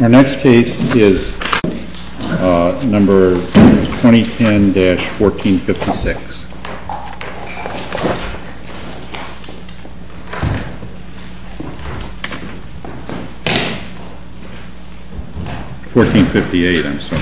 Our next case is number 2010-1456, 1458 I'm sorry. MR.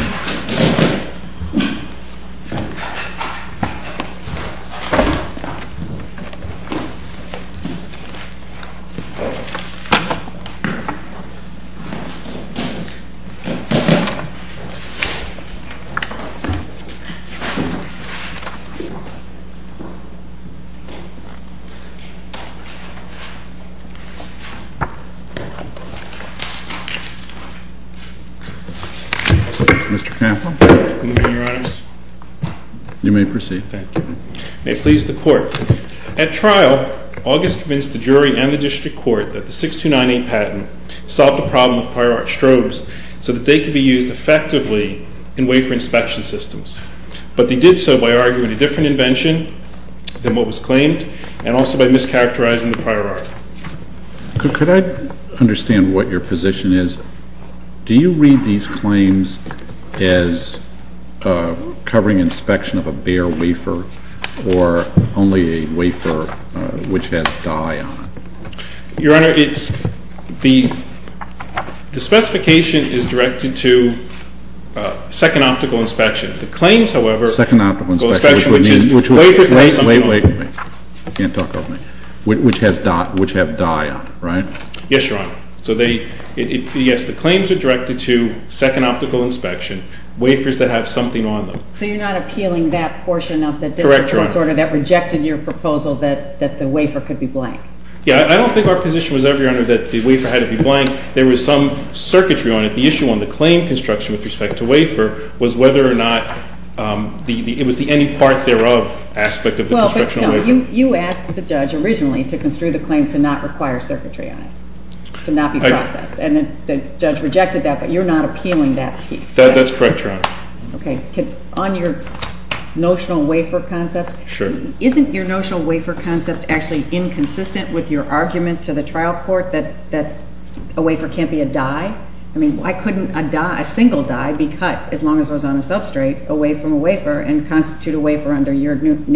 CAMPBELL In the meeting of your honors. MR. STEWART You may proceed. MR. CAMPBELL Thank you. I may please the court. At trial, August convinced the jury and the district court that the 6298 patent solved the problem with prior art strobes so that they could be used effectively in wafer inspection systems. But they did so by arguing a different invention than what was claimed, and also by mischaracterizing the prior art. THE COURT Could I understand what your position is? Do you read these claims as covering inspection of a bare wafer or only a wafer which has dye on it? MR. CAMPBELL The specification is directed to second optical inspection. The claims, however, THE COURT Second optical inspection, which is wafers that have something on them. MR. CAMPBELL Wait, wait, wait. You can't talk over me. Which have dye on them, right? MR. CAMPBELL Yes, your honor. So yes, the claims are directed to second optical inspection, wafers that have something on them. THE COURT So you're not appealing that portion of the district court's order that rejected your proposal that the wafer could be blank? MR. CAMPBELL Yeah, I don't think our position was ever, your honor, that the wafer had to be blank. There was some circuitry on it. The issue on the claim construction with respect to wafer was whether or not it was the any part thereof aspect of the construction of the wafer. THE COURT Well, but no, you asked the judge originally to construe the claim to not require circuitry on it, to not be processed, and the judge rejected that, but you're not appealing that piece. CAMPBELL That's correct, your honor. THE COURT Okay. On your notional wafer concept, isn't your notional wafer concept actually inconsistent with your argument to the trial court that a wafer can't be a die? I mean, why couldn't a die, a single die, be cut, as long as it was on a substrate, away from a wafer and constitute a wafer under your current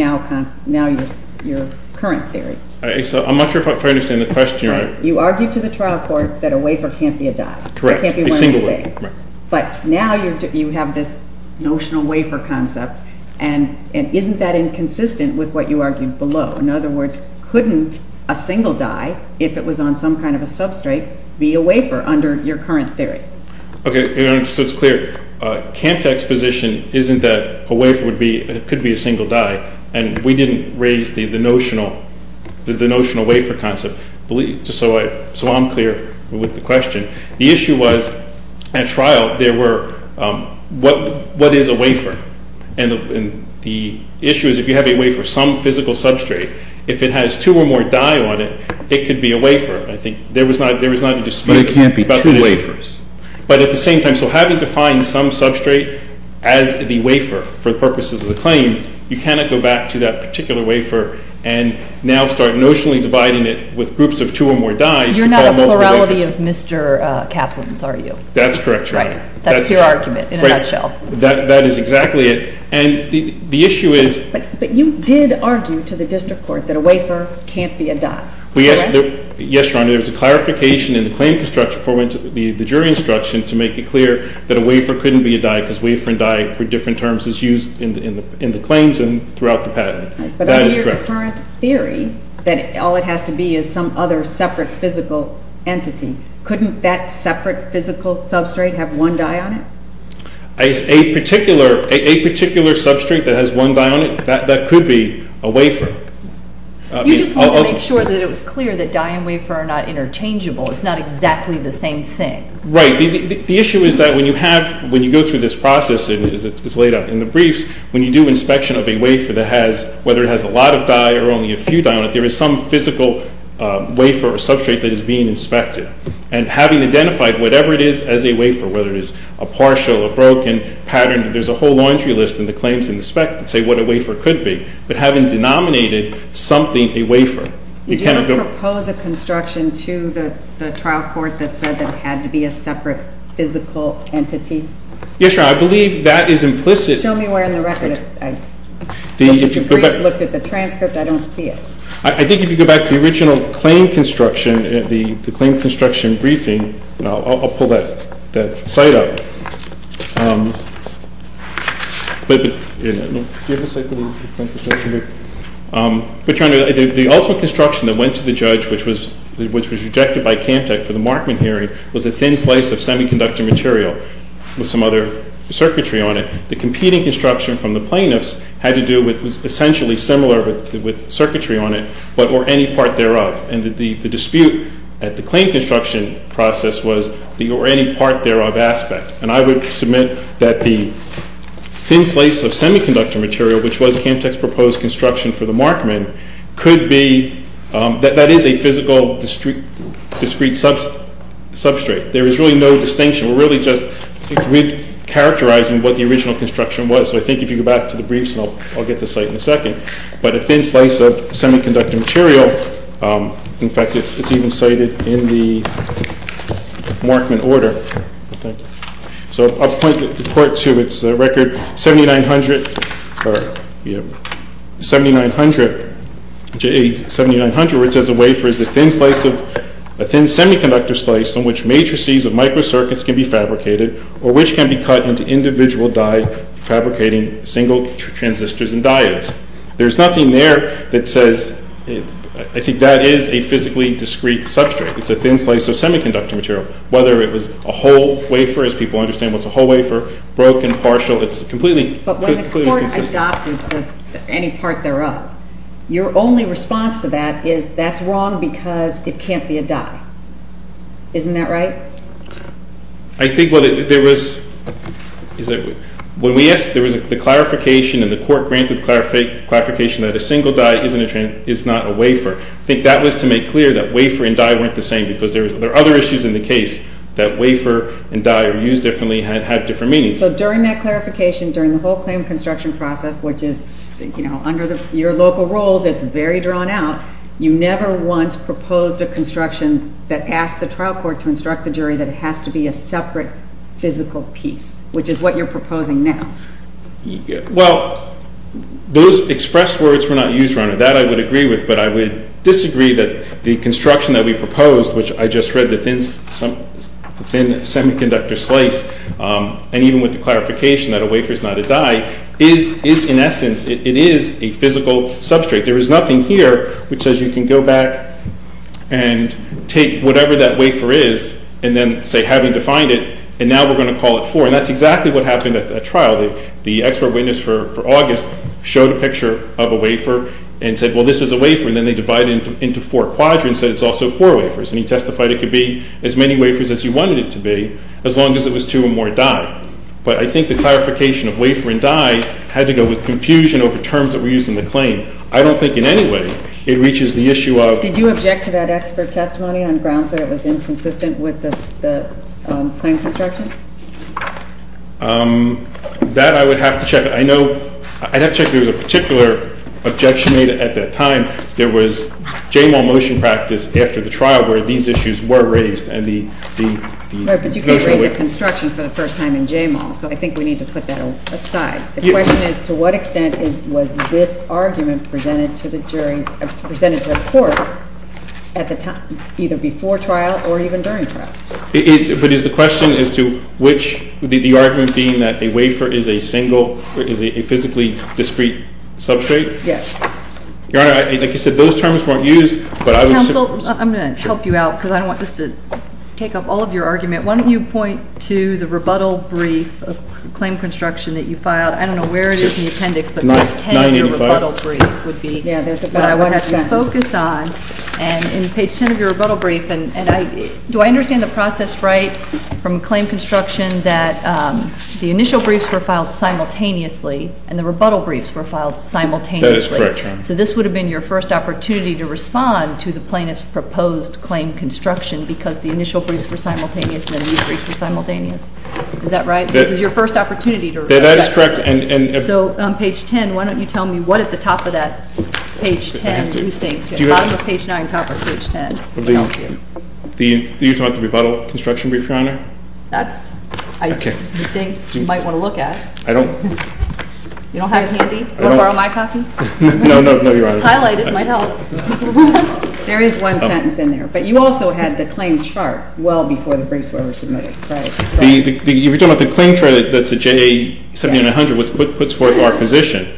theory? MR. CAMPBELL I'm not sure if I fully understand the question, your honor. THE COURT You argued to the trial court that a wafer can't be a die. MR. CAMPBELL Correct. A single wafer. THE COURT But now you have this notional wafer concept, and isn't that inconsistent with what you argued below? In other words, couldn't a single die, if it was on some kind of a substrate, be a wafer under your current theory? CAMPBELL Okay, your honor, so it's clear. CAMPBELL's position isn't that a wafer could be a single die, and we didn't raise the notional wafer concept, so I'm clear with the question. The issue was, at trial, there were, what is a wafer? And the issue is, if you have a wafer, some physical substrate, if it has two or more die on it, it could be a wafer. I think there was not a dispute about the issue. CAMPBELL But it can't be two wafers. CAMPBELL But at the same time, so having to find some substrate as the wafer for the purposes of the claim, you cannot go back to that particular wafer and now start notionally dividing it with groups of two or more dies to call those wafers. MS. GOTTLIEB You're not a plurality of Mr. Kaplan's, are you? MR. CAMPBELL That's correct, your honor. MS. GOTTLIEB That's your argument, in a nutshell. MR. CAMPBELL That is exactly it. And the issue is – MS. GOTTLIEB But you did argue to the district court that a wafer can't be a die, correct? MR. CAMPBELL Yes, your honor. There was a clarification in the claim construction before we went to the jury instruction to make it clear that a wafer couldn't be a die, because wafer and die are different terms as used in the claims and throughout the patent. That is correct. MS. GOTTLIEB But under your current theory, that all it has to be is some other separate physical entity, couldn't that separate physical substrate have one die on it? CAMPBELL A particular substrate that has one die on it? That could be a wafer. I mean – MS. GOTTLIEB You just wanted to make sure that it was clear that die and wafer are not interchangeable, it's not exactly the same thing. MR. CAMPBELL Right. The issue is that when you have – when you go through this process, it's laid out in the briefs, when you do inspection of a wafer that has – whether it has a lot of die or only a few die on it, there is some physical wafer or substrate that is being inspected. And having identified whatever it is as a wafer, whether it is a partial or broken pattern, there's a whole laundry list in the claims and the spec that say what a wafer could be. But having denominated something a wafer, you cannot go – MS. GOTTLIEB Did you ever propose a construction to the trial court that said that it had to be a separate physical entity? MR. CAMPBELL Yes, Your Honor. I believe that is implicit – MS. GOTTLIEB Show me where in the record it – the briefs looked at the transcript. I don't see it. MR. CAMPBELL I think if you go back to the original claim construction – the claim construction briefing – I'll pull that site up. But, Your Honor, the ultimate construction that went to the judge, which was rejected by CAMTEC for the Markman hearing, was a thin slice of semiconductor material with some other circuitry on it. The competing construction from the plaintiffs had to do with – was essentially similar with circuitry on it, but – or any part thereof. And the dispute at the claim construction process was the – or any part thereof – aspect. And I would submit that the thin slice of semiconductor material, which was CAMTEC's proposed construction for the Markman, could be – that is a physical discrete substrate. There is really no distinction. We're really just characterizing what the original construction was. So I think if you go back to the briefs, I'll get to the site in a second. But a thin slice of semiconductor material – in fact, it's even cited in the Markman order. So I'll point to – it's a record 7900 – 7900 where it says a wafer is a thin slice of – a thin semiconductor slice on which matrices of microcircuits can be fabricated or which can be cut into individual die fabricating single transistors and diodes. There's nothing there that says – I think that is a physically discrete substrate. It's a thin slice of semiconductor material, whether it was a whole wafer – as people understand what's a whole wafer – broken, partial, it's completely – But when the court adopted any part thereof, your only response to that is that's wrong because it can't be a die. Isn't that right? I think what it – there was – is that – when we asked – there was the clarification and the court granted the clarification that a single die isn't a – is not a wafer. I think that was to make clear that wafer and die weren't the same because there are other issues in the case that wafer and die are used differently and have different meanings. So during that clarification, during the whole claim construction process, which is, you know, under your local rules, it's very drawn out, you never once proposed a construction that asked the trial court to instruct the jury that it has to be a separate physical piece, which is what you're proposing now. Well, those expressed words were not used, Your Honor. That I would agree with, but I would disagree that the construction that we proposed, which I just read, the thin semiconductor slice, and even with the clarification that a wafer is not a die, is in essence – it is a physical substrate. There is nothing here which says you can go back and take whatever that wafer is and then say having defined it, and now we're going to call it four, and that's exactly what happened at the trial. The expert witness for August showed a picture of a wafer and said, well, this is a wafer, and then they divided it into four quadrants and said it's also four wafers, and he testified it could be as many wafers as you wanted it to be, as long as it was two or more die. But I think the clarification of wafer and die had to go with confusion over terms that were used in the claim. I don't think in any way it reaches the issue of – Did you object to that expert testimony on grounds that it was inconsistent with the claim construction? That I would have to check. I know – I'd have to check if there was a particular objection made at that time. There was J-Mall motion practice after the trial where these issues were raised, and the – Right, but you can't raise a construction for the first time in J-Mall, so I think we need to put that aside. The question is, to what extent was this argument presented to the jury – presented to the court at the time – either before trial or even during trial? But is the question as to which – the argument being that a wafer is a single – is a physically discrete substrate? Yes. Your Honor, like I said, those terms weren't used, but I would – Counsel, I'm going to help you out because I don't want this to take up all of your argument. Why don't you point to the rebuttal brief of claim construction that you filed. I don't know where it is in the appendix, but page 10 of your rebuttal brief would be – Yeah, there's a – What I want us to focus on, and in page 10 of your rebuttal brief, and I – do I understand the process right from claim construction that the initial briefs were filed simultaneously and the rebuttal briefs were filed simultaneously? That is correct, Your Honor. So this would have been your first opportunity to respond to the plaintiff's proposed claim construction because the initial briefs were simultaneous and the new briefs were simultaneous. Is that right? This is your first opportunity to respond. That is correct. And – So on page 10, why don't you tell me what at the top of that page 10 you think – Do you have – Bottom of page 9, top of page 10. Thank you. Do you want the rebuttal construction brief, Your Honor? That's – Okay. I think you might want to look at. I don't – You don't have it handy? I don't – Do you want to borrow my copy? No, no, no, Your Honor. It's highlighted. It might help. There is one sentence in there. But you also had the claim chart well before the briefs were ever submitted. Right. The – If you're talking about the claim chart that's a JA 7900, what puts forth our position,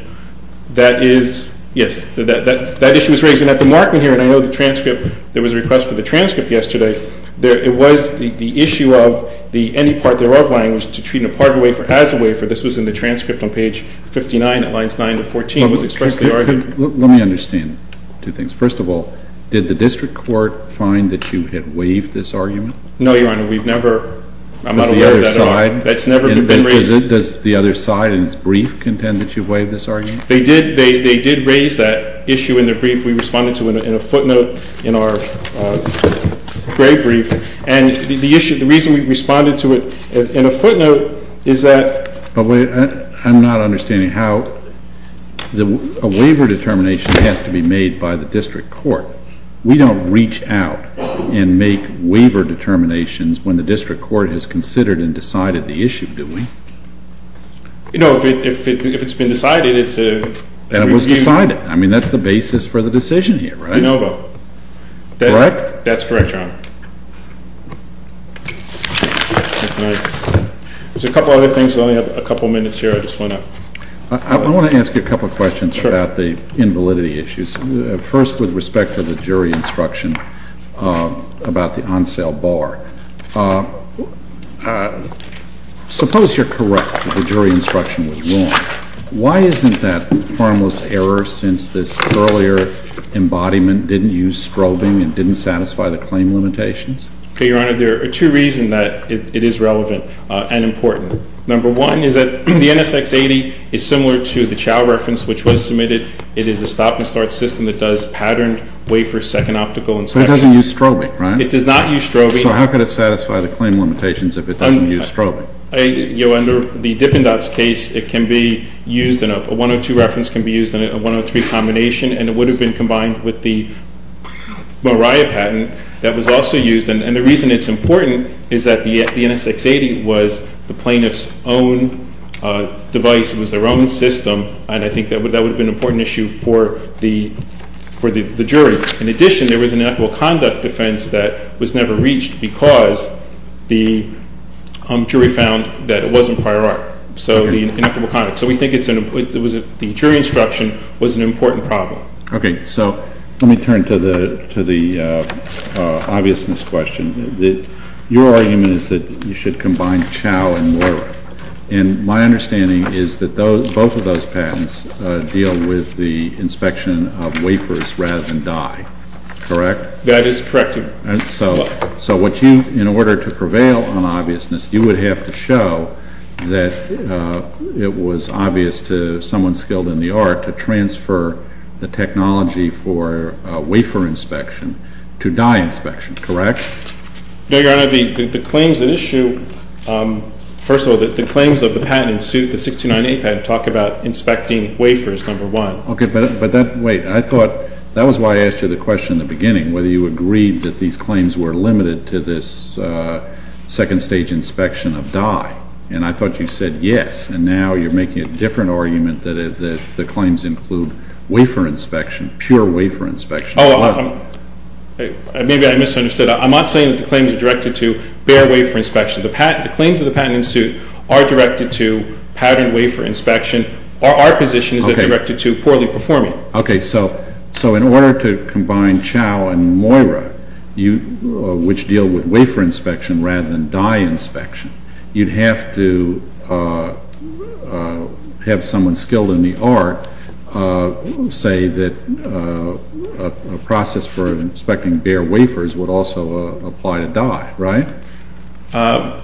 that is – yes, that issue was raised. And at the markment here, and I know the transcript – there was a request for the transcript yesterday. There – it was the issue of the – any part thereof language to treat an aparted wafer as a wafer. This was in the transcript on page 59 at lines 9 to 14. It was expressly argued – Let me understand two things. First of all, did the district court find that you had waived this argument? No, Your Honor. We've never – I'm not aware of that at all. Does the other side – That's never been raised. Does the other side in its brief contend that you waived this argument? They did raise that issue in the brief we responded to in a footnote in our gray brief. And the issue – the reason we responded to it in a footnote is that – But wait, I'm not understanding how – a waiver determination has to be made by the district court. We don't reach out and make waiver determinations when the district court has considered and decided the issue, do we? No, if it's been decided, it's a – And it was decided. I mean, that's the basis for the decision here, right? De novo. Correct? That's correct, Your Honor. All right. There's a couple other things. I only have a couple minutes here. I just want to – I want to ask you a couple questions about the invalidity issues. Sure. First, with respect to the jury instruction about the on-sale bar. Suppose you're correct that the jury instruction was wrong. Why isn't that harmless error since this earlier embodiment didn't use strobing and I'm not sure. I'm not sure. I'm not sure. I'm not sure. I'm not sure. I'm not sure. I'm not sure. I'm not sure. Can you deal with any limitations? Your Honor, there are two reasons that it is relevant and important. Number one is that the NSX-80 is similar to the Chao reference, which was submitted. It is a stop and start system. It does patterned wafer second optical inspection. It doesn't use strobing, right? It does not use strobing. So how could it satisfy the claim limitations if it doesn't use strobing? Your Honor, the Dippendotz case, it can be used in a – a 102 reference can be used in a 103 combination, and it would have been combined with the Moriah patent that was also used, and the reason it's important is that the NSX-80 was the plaintiff's own device. It was their own system, and I think that would – that would have been an important issue for the – for the jury. In addition, there was an inequitable conduct defense that was never reached because the jury found that it wasn't prior art, so the inequitable conduct. So we think it's an – it was a – the jury instruction was an important problem. Okay. Great. So let me turn to the – to the obviousness question. Your argument is that you should combine Chao and Moriah, and my understanding is that those – both of those patents deal with the inspection of wafers rather than dye, correct? That is correct, Your Honor. So what you – in order to prevail on obviousness, you would have to show that it was obvious to someone skilled in the art to transfer the technology for wafer inspection to dye inspection, correct? No, Your Honor. The claims that issue – first of all, the claims of the patent in suit, the 1698 patent, talk about inspecting wafers, number one. Okay. But that – wait. I thought – that was why I asked you the question in the beginning, whether you agreed that these claims were limited to this second-stage inspection of dye, and I thought you said yes, and now you're making a different argument that the claims include wafer inspection, pure wafer inspection as well. Oh, I'm – maybe I misunderstood. I'm not saying that the claims are directed to bare wafer inspection. The claims of the patent in suit are directed to patterned wafer inspection. Our positions are directed to poorly performing. Okay. So in order to combine Chao and Moriah, which deal with wafer inspection rather than dye inspection, you'd have to have someone skilled in the art say that a process for inspecting bare wafers would also apply to dye, right? I'm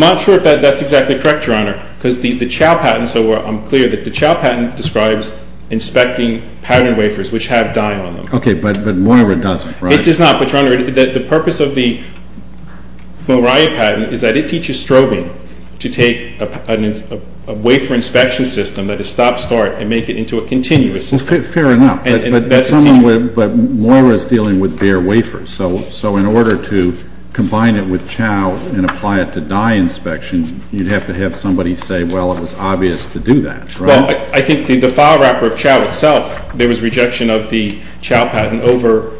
not sure if that's exactly correct, Your Honor, because the Chao patent – so I'm clear that the Chao patent describes inspecting patterned wafers, which have dye on them. Okay. But Moriah doesn't, right? It does not. But, Your Honor, the purpose of the Moriah patent is that it teaches Strobing to take a wafer inspection system that is stop-start and make it into a continuous system. Fair enough. And that's – But Moira is dealing with bare wafers, so in order to combine it with Chao and apply it to dye inspection, you'd have to have somebody say, well, it was obvious to do that, right? Well, I think the file wrapper of Chao itself, there was rejection of the Chao patent over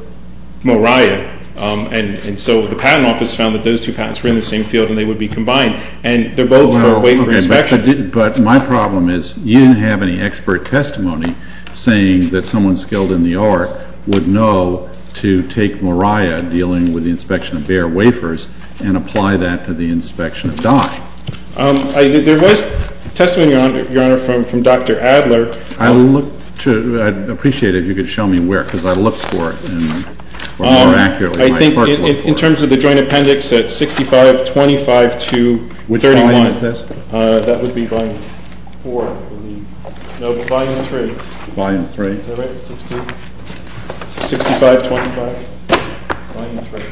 Moriah, and so the Patent Office found that those two patents were in the same field and they would be combined. And they're both for wafer inspection. But my problem is you didn't have any expert testimony saying that someone skilled in the art would know to take Moriah dealing with the inspection of bare wafers and apply that to the inspection of dye. There was testimony, Your Honor, from Dr. Adler. I'd appreciate it if you could show me where, because I looked for it more accurately. I think in terms of the joint appendix, it's 65-25-2-31. Which volume is this? That would be volume 4, I believe. No, it's volume 3. Volume 3? Is that right? 65-25-3.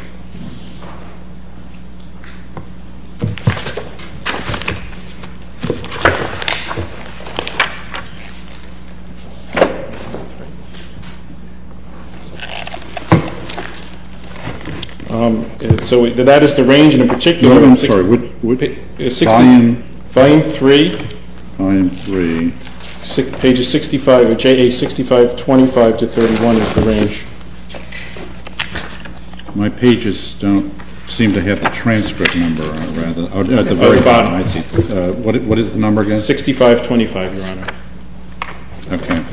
So that is the range in particular. No, I'm sorry. Volume? Volume 3. Volume 3. Page 65, or Chao 65-25-3-1 is the range. My pages don't seem to have the transcript number on them. At the bottom. I see. What is the number again? 65-25, Your Honor. Okay.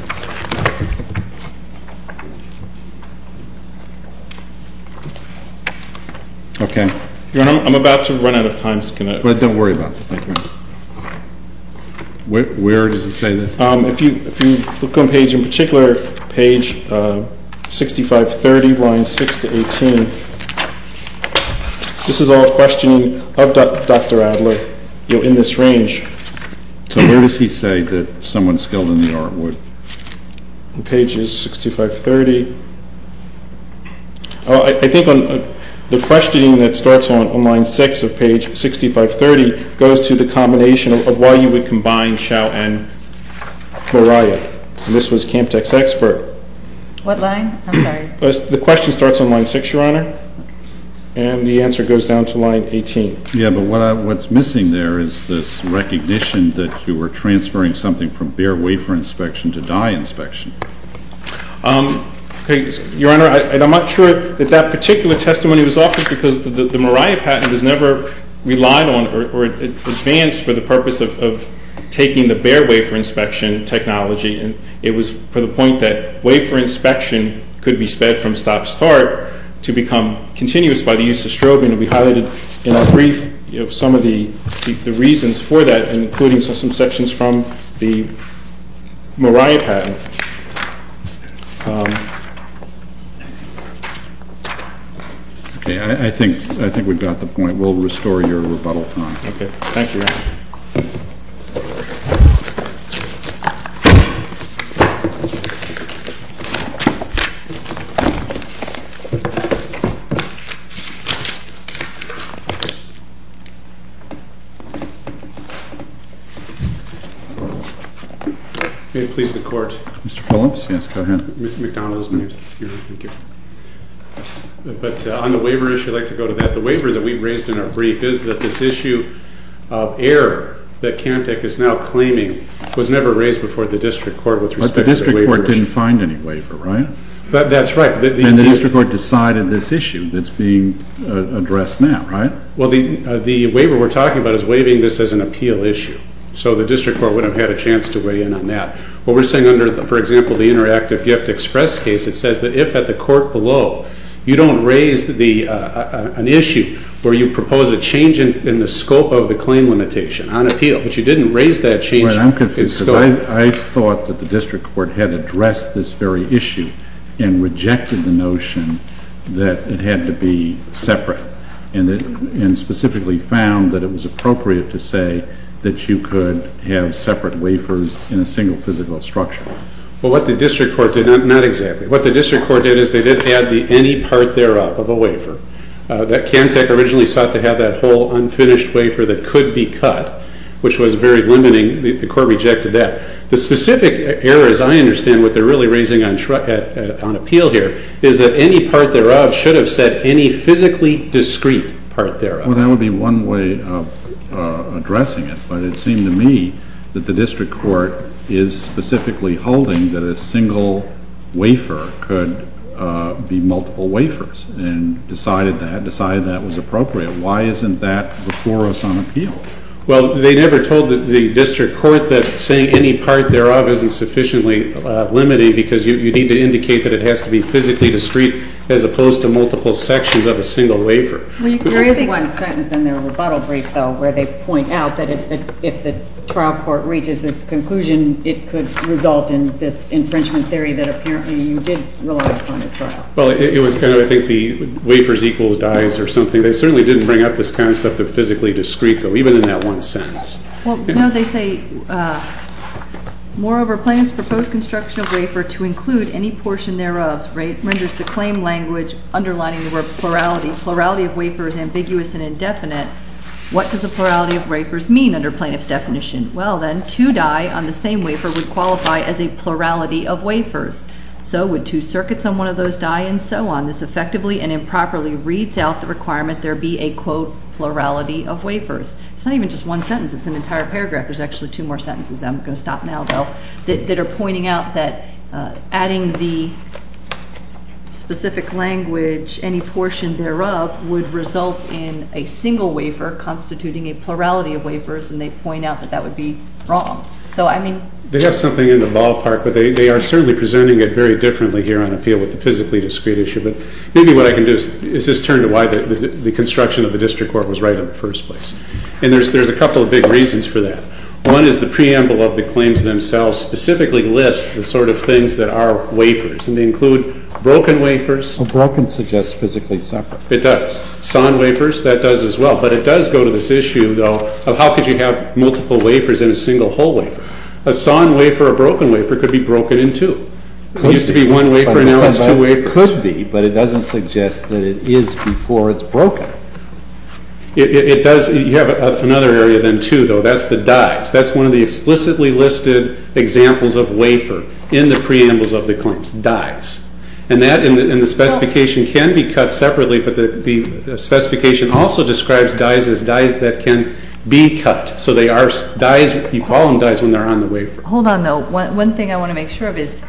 Okay. Your Honor, I'm about to run out of time. Don't worry about it. Where does it say this? If you look on page 65-30, lines 6-18, this is all questioning of Dr. Adler in this range. So where does he say that someone skilled in the art would? Page 65-30. I think the questioning that starts on line 6 of page 65-30 goes to the combination of why you would combine Chao and Boraya. This was Camp Tech's expert. What line? I'm sorry. The question starts on line 6, Your Honor, and the answer goes down to line 18. Yeah, but what's missing there is this recognition that you were transferring something from bare wafer inspection to dye inspection. Okay. Your Honor, I'm not sure that that particular testimony was offered because the Moriah patent was never relied on or advanced for the purpose of taking the bare wafer inspection technology. It was for the point that wafer inspection could be sped from stop-start to become continuous by the use of strobing. It will be highlighted in a brief some of the reasons for that, including some sections from the Moriah patent. Okay. I think we've got the point. We'll restore your rebuttal time. Okay. Thank you, Your Honor. May it please the Court? Mr. Phillips? Yes, go ahead. Mr. McDonough. Thank you. But on the waiver issue, I'd like to go to that. The waiver that we raised in our brief is that this issue of error that Cantek is now claiming was never raised before the district court with respect to the waiver issue. But the district court didn't find any waiver, right? That's right. And the district court decided this issue that's being addressed now, right? Well, the waiver we're talking about is waiving this as an appeal issue. So the district court would have had a chance to weigh in on that. What we're saying under, for example, the Interactive Gift Express case, it says that if at the court below, you don't raise an issue where you propose a change in the scope of the claim limitation on appeal, but you didn't raise that change in scope. Right. I'm confused because I thought that the district court had addressed this very issue and rejected the notion that it had to be separate. And specifically found that it was appropriate to say that you could have separate wafers in a single physical structure. Well, what the district court did, not exactly, what the district court did is they didn't add the any part thereof of a waiver. That Cantek originally sought to have that whole unfinished wafer that could be cut, which was very limiting. The court rejected that. The specific error, as I understand what they're really raising on appeal here, is that any part thereof should have said any physically discrete part thereof. Well, that would be one way of addressing it. But it seemed to me that the district court is specifically holding that a single wafer could be multiple wafers and decided that was appropriate. Why isn't that before us on appeal? Well, they never told the district court that saying any part thereof isn't sufficiently limiting because you need to indicate that it has to be physically discrete as opposed to multiple sections of a single wafer. There is one sentence in their rebuttal brief, though, where they point out that if the trial court reaches this conclusion, it could result in this infringement theory that apparently you did rely upon the trial. Well, it was kind of, I think, the wafers equals dies or something. They certainly didn't bring up this concept of physically discrete, though, even in that one sentence. Well, no, they say, moreover, plaintiff's proposed construction of wafer to include any portion thereof renders the claim language underlining the word plurality. Plurality of wafer is ambiguous and indefinite. What does the plurality of wafers mean under plaintiff's definition? Well, then, two die on the same wafer would qualify as a plurality of wafers. So would two circuits on one of those die? And so on. This effectively and improperly reads out the requirement there be a, quote, plurality of wafers. It's not even just one sentence. It's an entire paragraph. There's actually two more sentences. I'm going to stop now, though, that are pointing out that adding the specific language, any portion thereof, would result in a single wafer constituting a plurality of wafers. And they point out that that would be wrong. They have something in the ballpark, but they are certainly presenting it very differently here on appeal with the physically discrete issue. But maybe what I can do is just turn to why the construction of the district court was right in the first place. And there's a couple of big reasons for that. One is the preamble of the claims themselves specifically lists the sort of things that are wafers. And they include broken wafers. Broken suggests physically separate. It does. Sawn wafers, that does as well. But it does go to this issue, though, of how could you have multiple wafers in a single whole wafer. A sawn wafer, a broken wafer, could be broken in two. It used to be one wafer, and now it's two wafers. It could be, but it doesn't suggest that it is before it's broken. It does. You have another area then, too, though. That's the dives. That's one of the explicitly listed examples of wafer in the preambles of the claims, dives. And the specification can be cut separately, but the specification also describes dives as dives that can be cut. So they are dives. You call them dives when they're on the wafer. Hold on, though. One thing I want to make sure of is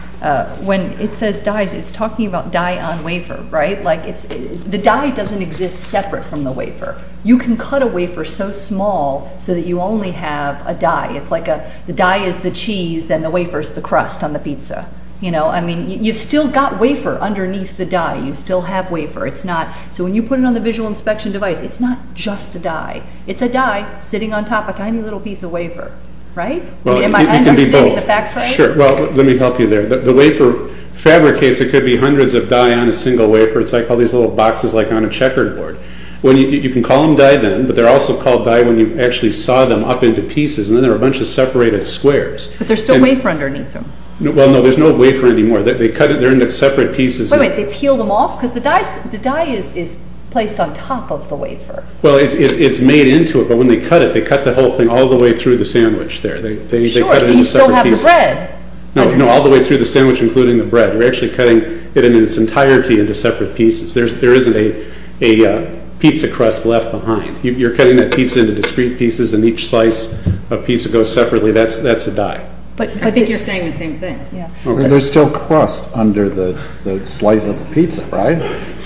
when it says dives, it's talking about die on wafer, right? Like the die doesn't exist separate from the wafer. You can cut a wafer so small so that you only have a die. It's like the die is the cheese and the wafer is the crust on the pizza. You've still got wafer underneath the die. You still have wafer. So when you put it on the visual inspection device, it's not just a die. It's a die sitting on top of a tiny little piece of wafer, right? Am I understanding the facts right? Sure. Well, let me help you there. The wafer fabricates. It could be hundreds of die on a single wafer. It's like all these little boxes like on a checkerboard. You can call them die then, but they're also called die when you actually saw them up into pieces, and then they're a bunch of separated squares. But there's still wafer underneath them. Well, no. There's no wafer anymore. They're in separate pieces. Wait, wait. They peel them off? Because the die is placed on top of the wafer. Well, it's made into it, but when they cut it, they cut the whole thing all the way through the sandwich there. Sure, so you still have the bread. No, all the way through the sandwich including the bread. You're actually cutting it in its entirety into separate pieces. There isn't a pizza crust left behind. You're cutting that pizza into discrete pieces, and each slice of pizza goes separately. That's a die. I think you're saying the same thing. There's still crust under the slice of the pizza, right?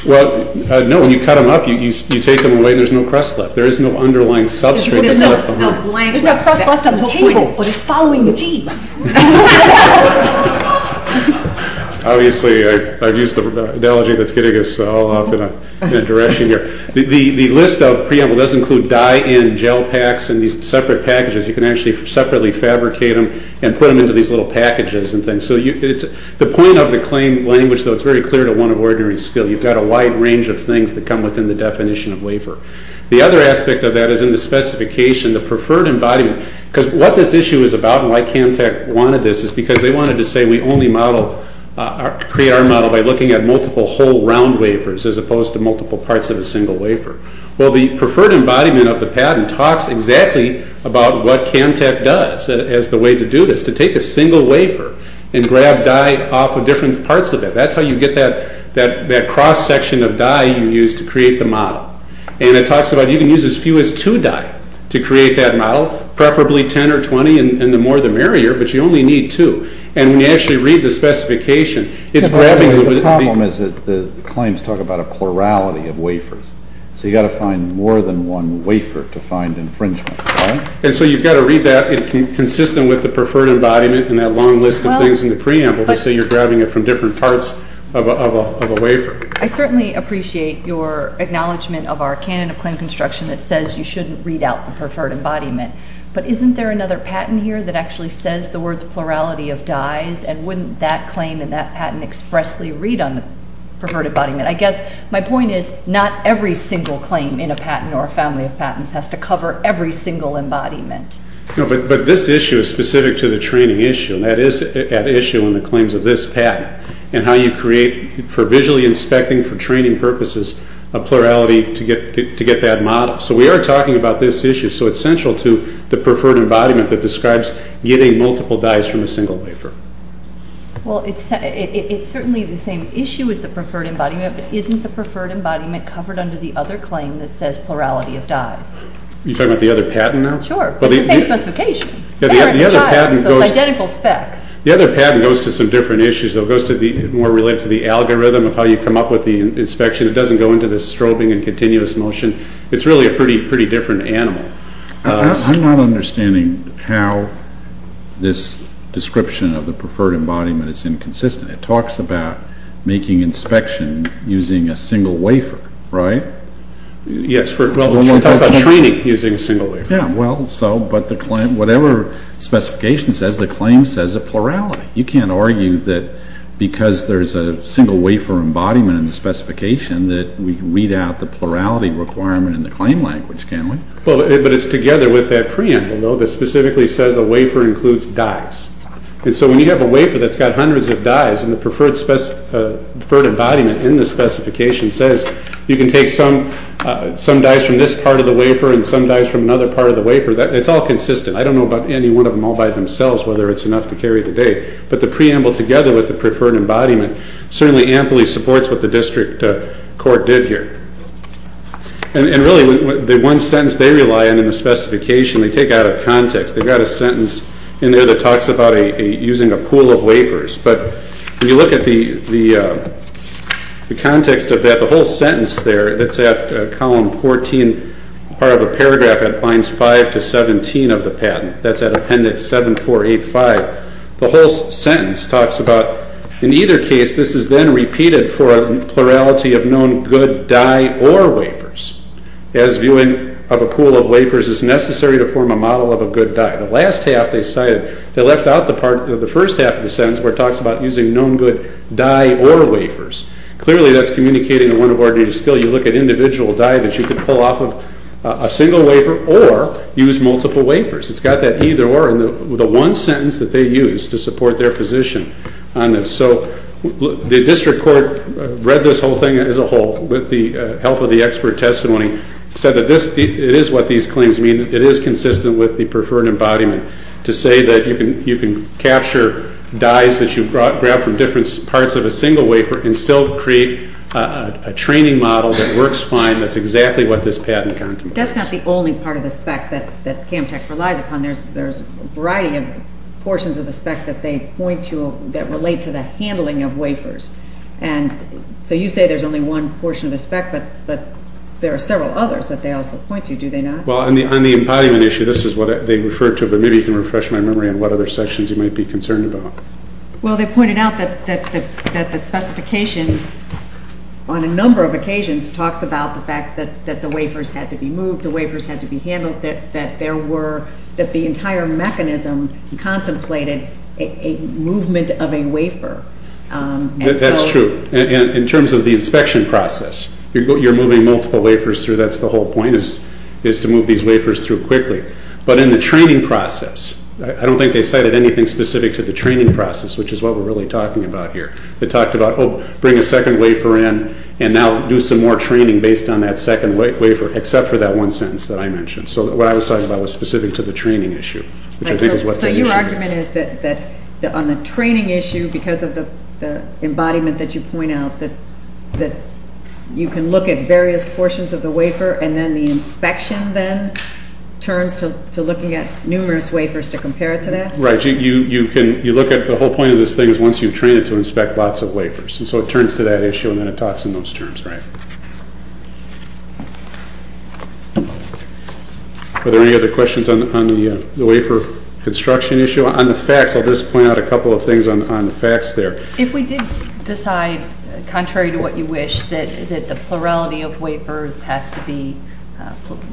Well, no. When you cut them up, you take them away, and there's no crust left. There is no underlying substrate left behind. There's no crust left on the table, but it's following the genes. Obviously, I've used the analogy that's getting us all off in a direction here. The list of preamble does include die and gel packs in these separate packages. You can actually separately fabricate them and put them into these little packages. The point of the claim language, though, it's very clear to one of ordinary skill. You've got a wide range of things that come within the definition of wafer. The other aspect of that is in the specification, the preferred embodiment, because what this issue is about and why CamTech wanted this is because they wanted to say we only create our model by looking at multiple whole round wafers as opposed to multiple parts of a single wafer. Well, the preferred embodiment of the patent talks exactly about what CamTech does as the way to do this, to take a single wafer and grab die off of different parts of it. That's how you get that cross-section of die you use to create the model. And it talks about you can use as few as two die to create that model, preferably 10 or 20 and the more the merrier, but you only need two. And when you actually read the specification, it's grabbing... The problem is that the claims talk about a plurality of wafers, so you've got to find more than one wafer to find infringement. And so you've got to read that consistent with the preferred embodiment and that long list of things in the preamble to say you're grabbing it from different parts of a wafer. I certainly appreciate your acknowledgment of our canon of claim construction that says you shouldn't read out the preferred embodiment, but isn't there another patent here that actually says the words plurality of dies and wouldn't that claim and that patent expressly read on the preferred embodiment? I guess my point is not every single claim in a patent or a family of patents has to cover every single embodiment. But this issue is specific to the training issue, and that is at issue in the claims of this patent and how you create for visually inspecting, for training purposes, a plurality to get that model. So we are talking about this issue, so it's central to the preferred embodiment that describes getting multiple dies from a single wafer. Well, it's certainly the same issue as the preferred embodiment, but isn't the preferred embodiment covered under the other claim that says plurality of dies? You're talking about the other patent now? Sure, but it's the same specification. It's parent and child, so it's identical spec. The other patent goes to some different issues. It goes more related to the algorithm of how you come up with the inspection. It doesn't go into the strobing and continuous motion. It's really a pretty different animal. I'm not understanding how this description of the preferred embodiment is inconsistent. It talks about making inspection using a single wafer, right? Yes, well, it talks about training using a single wafer. Yeah, well, but whatever specification says, the claim says a plurality. You can't argue that because there's a single wafer embodiment in the specification that we weed out the plurality requirement in the claim language, can we? Well, but it's together with that preamble, though, that specifically says a wafer includes dies. And so when you have a wafer that's got hundreds of dies, and the preferred embodiment in the specification says you can take some dies from this part of the wafer and some dies from another part of the wafer, it's all consistent. I don't know about any one of them all by themselves whether it's enough to carry the day, but the preamble together with the preferred embodiment certainly amply supports what the district court did here. And really, the one sentence they rely on in the specification, they take out of context. They've got a sentence in there that talks about using a pool of wafers. But when you look at the context of that, the whole sentence there that's at column 14, part of a paragraph that binds 5 to 17 of the patent, that's at appendix 7485, the whole sentence talks about, in either case, this is then repeated for a plurality of known good die or wafers. As viewing of a pool of wafers, it's necessary to form a model of a good die. The last half they cited, they left out the first half of the sentence where it talks about using known good die or wafers. Clearly, that's communicating a one-of-ordinary-still. You look at individual die that you can pull off of a single wafer or use multiple wafers. It's got that either-or in the one sentence that they use to support their position on this. So the district court read this whole thing as a whole with the help of the expert testimony and said that it is what these claims mean. It is consistent with the preferred embodiment to say that you can capture dies that you've grabbed from different parts of a single wafer and still create a training model that works fine, that's exactly what this patent contemplates. That's not the only part of the spec that CAMTC relies upon. There's a variety of portions of the spec that they point to that relate to the handling of wafers. So you say there's only one portion of the spec, but there are several others that they also point to, do they not? Well, on the embodiment issue, this is what they refer to, but maybe you can refresh my memory on what other sections you might be concerned about. Well, they pointed out that the specification on a number of occasions talks about the fact that the wafers had to be moved, the wafers had to be handled, that the entire mechanism contemplated a movement of a wafer. That's true. In terms of the inspection process, you're moving multiple wafers through, that's the whole point, is to move these wafers through quickly. But in the training process, I don't think they cited anything specific to the training process, which is what we're really talking about here. They talked about, oh, bring a second wafer in and now do some more training based on that second wafer, except for that one sentence that I mentioned. So what I was talking about was specific to the training issue. So your argument is that on the training issue, because of the embodiment that you point out, that you can look at various portions of the wafer and then the inspection then turns to looking at numerous wafers to compare it to that? Right. You look at the whole point of this thing is once you've trained it to inspect lots of wafers. And so it turns to that issue and then it talks in those terms, right? Are there any other questions on the wafer construction issue? On the facts, I'll just point out a couple of things on the facts there. If we did decide, contrary to what you wish, that the plurality of wafers has to be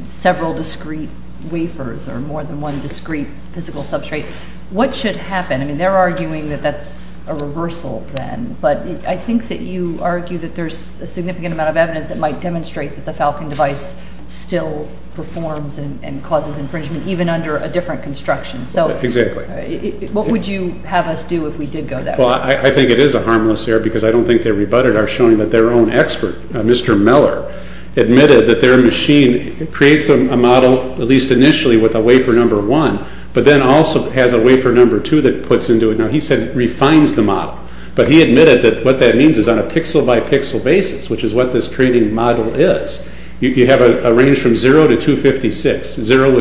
several discrete wafers or more than one discrete physical substrate, what should happen? I mean, they're arguing that that's a reversal then. But I think that you argue that there's a significant amount of evidence that might demonstrate that the Falcon device still performs and causes infringement even under a different construction. Exactly. So what would you have us do if we did go that way? Well, I think it is a harmless error because I don't think they rebutted our showing that their own expert, Mr. Meller, admitted that their machine creates a model, at least initially, with a wafer number one, but then also has a wafer number two that puts into it. Now, he said it refines the model, but he admitted that what that means is on a pixel-by-pixel basis, which is what this training model is, you have a range from zero to 256. Zero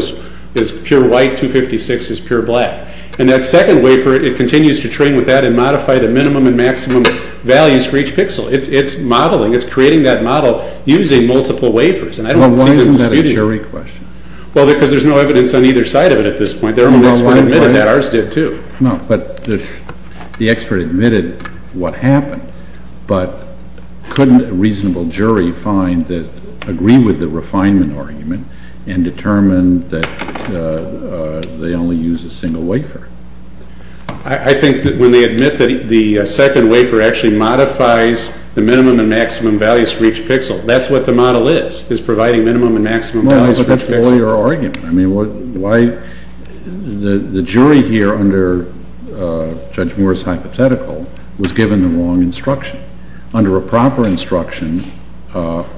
is pure white, 256 is pure black. And that second wafer, it continues to train with that and modify the minimum and maximum values for each pixel. It's modeling. It's creating that model using multiple wafers. Well, why isn't that a jury question? Well, because there's no evidence on either side of it at this point. Their own expert admitted that. Ours did, too. No, but the expert admitted what happened, but couldn't a reasonable jury agree with the refinement argument and determine that they only use a single wafer? I think that when they admit that the second wafer actually modifies the minimum and maximum values for each pixel, that's what the model is, is providing minimum and maximum values for each pixel. Well, but that's your argument. The jury here under Judge Moore's hypothetical was given the wrong instruction. Under a proper instruction,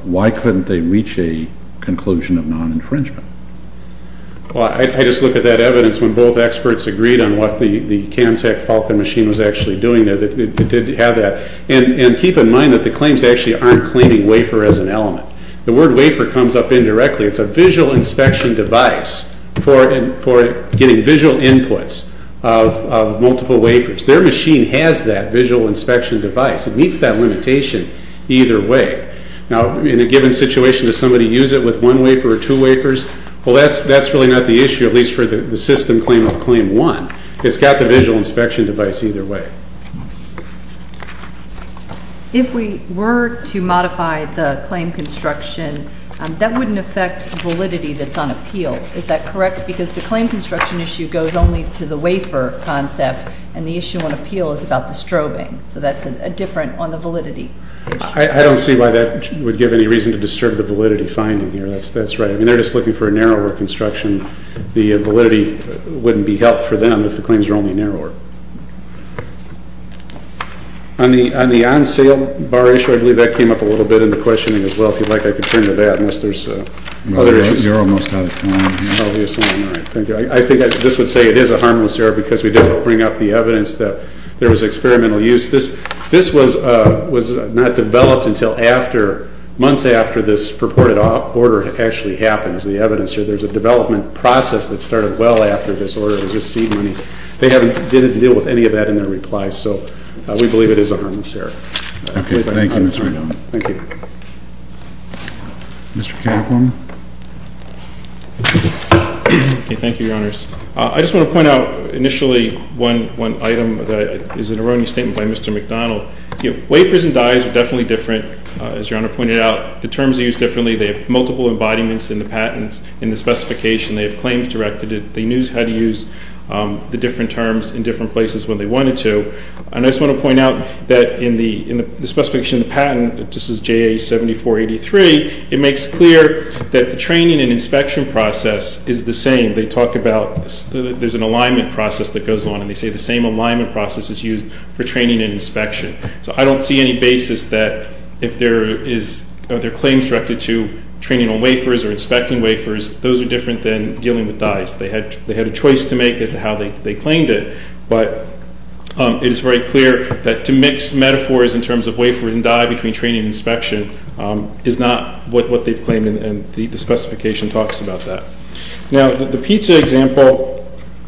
why couldn't they reach a conclusion of non-infringement? Well, I just look at that evidence when both experts agreed on what the CamTech Falcon machine was actually doing there. It did have that. And keep in mind that the claims actually aren't claiming wafer as an element. The word wafer comes up indirectly. It's a visual inspection device for getting visual inputs of multiple wafers. Their machine has that visual inspection device. It meets that limitation either way. Now, in a given situation, does somebody use it with one wafer or two wafers? Well, that's really not the issue, at least for the system claim of claim one. It's got the visual inspection device either way. If we were to modify the claim construction, that wouldn't affect validity that's on appeal. Is that correct? Because the claim construction issue goes only to the wafer concept, and the issue on appeal is about the strobing. So that's different on the validity issue. I don't see why that would give any reason to disturb the validity finding here. That's right. I mean, they're just looking for a narrower construction. The validity wouldn't be helped for them if the claims were only narrower. On the on-sale bar issue, I believe that came up a little bit in the questioning as well. If you'd like, I could turn to that unless there's other issues. You're almost out of time. I'll be assigned. All right. Thank you. I think this would say it is a harmless error because we didn't bring up the evidence that there was experimental use. This was not developed until after, months after this purported order actually happens, the evidence here. There's a development process that started well after this order. It was just seed money. They haven't been able to deal with any of that in their replies. So we believe it is a harmless error. Okay. Thank you, Mr. McDonnell. Thank you. Mr. Kaplan. Thank you, Your Honors. I just want to point out initially one item that is an erroneous statement by Mr. McDonnell. Wafers and dyes are definitely different, as Your Honor pointed out. The terms are used differently. They have multiple embodiments in the patents. In the specification, they have claims directed. They knew how to use the different terms in different places when they wanted to. And I just want to point out that in the specification of the patent, this is JA-7483, it makes clear that the training and inspection process is the same. They talk about there's an alignment process that goes on, So I don't see any basis that if there are claims directed to training on wafers or inspecting wafers, those are different than dealing with dyes. They had a choice to make as to how they claimed it. But it is very clear that to mix metaphors in terms of wafer and dye between training and inspection is not what they've claimed, and the specification talks about that. Now, the pizza example,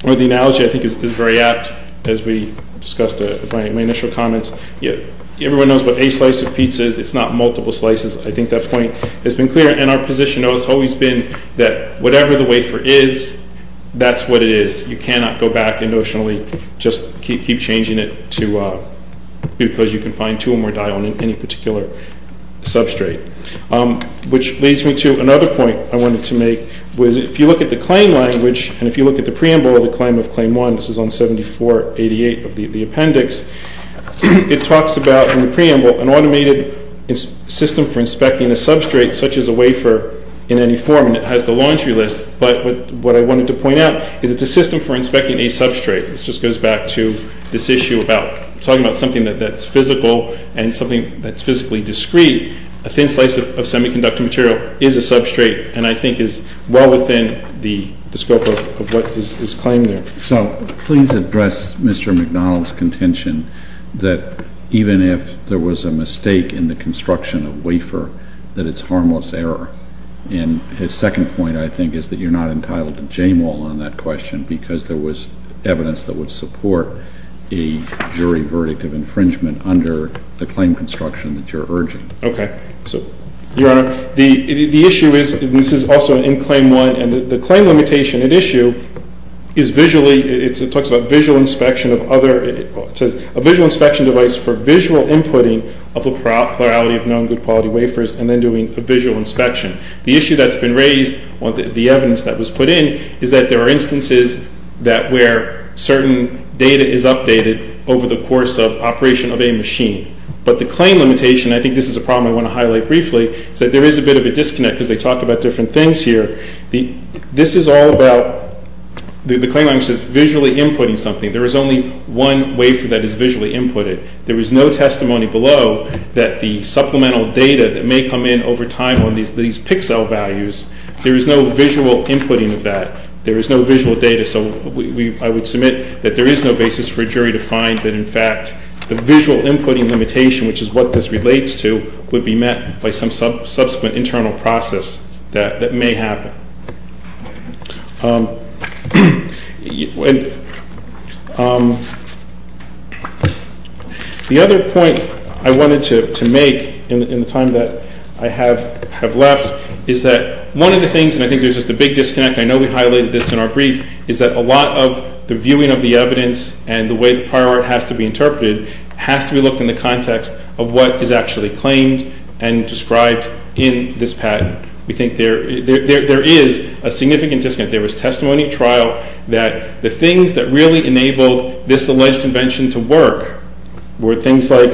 or the analogy, I think is very apt, as we discussed in my initial comments. Everyone knows what a slice of pizza is. It's not multiple slices. I think that point has been clear, and our position has always been that whatever the wafer is, that's what it is. You cannot go back, emotionally, just keep changing it because you can find two or more dye on any particular substrate. Which leads me to another point I wanted to make. If you look at the claim language, and if you look at the preamble of the claim of Claim 1, this is on 7488 of the appendix, it talks about, in the preamble, an automated system for inspecting a substrate such as a wafer in any form, and it has the laundry list. But what I wanted to point out is it's a system for inspecting a substrate. This just goes back to this issue about talking about something that's physical and something that's physically discrete. A thin slice of semiconductor material is a substrate, and I think is well within the scope of what is claimed there. So please address Mr. MacDonald's contention that even if there was a mistake in the construction of wafer, that it's harmless error. And his second point, I think, is that you're not entitled to jamewall on that question because there was evidence that would support a jury verdict of infringement under the claim construction that you're urging. Okay. So, Your Honor, the issue is, and this is also in Claim 1, and the claim limitation at issue is visually, it talks about visual inspection of other, it says a visual inspection device for visual inputting of a plurality of non-good quality wafers and then doing a visual inspection. The issue that's been raised, the evidence that was put in, is that there are instances where certain data is updated over the course of operation of a machine. But the claim limitation, I think this is a problem I want to highlight briefly, is that there is a bit of a disconnect because they talk about different things here. This is all about, the claim language says visually inputting something. There is only one wafer that is visually inputted. There is no testimony below that the supplemental data that may come in over time on these pixel values, there is no visual inputting of that. There is no visual data, so I would submit that there is no basis for a jury to find that, in fact, the visual inputting limitation, which is what this relates to, would be met by some subsequent internal process that may happen. The other point I wanted to make in the time that I have left is that one of the things, and I think there is just a big disconnect, I know we highlighted this in our brief, is that a lot of the viewing of the evidence and the way the prior art has to be interpreted has to be looked in the context of what is actually claimed and described in this patent. We think there is a significant disconnect. There was testimony at trial that the things that really enabled this alleged invention to work were things like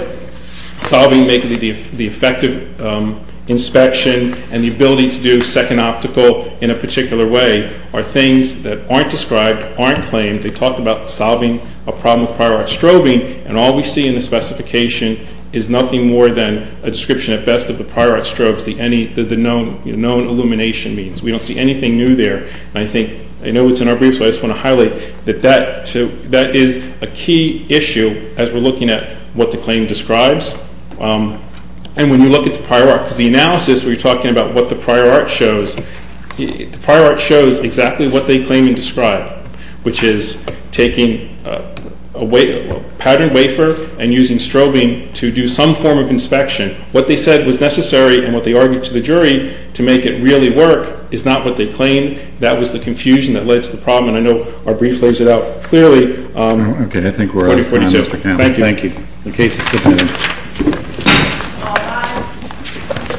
solving the effective inspection and the ability to do second optical in a particular way are things that aren't described, aren't claimed. They talk about solving a problem with prior art strobing, and all we see in the specification is nothing more than a description at best of the prior art strobes, the known illumination means. We don't see anything new there, and I think, I know it's in our brief, so I just want to highlight that that is a key issue as we are looking at what the claim describes. And when you look at the prior art, because the analysis where you are talking about what the prior art shows, the prior art shows exactly what they claim and describe, which is taking a patterned wafer and using strobing to do some form of inspection. What they said was necessary and what they argued to the jury to make it really work is not what they claim. That was the confusion that led to the problem, and I know our brief lays it out clearly. Thank you.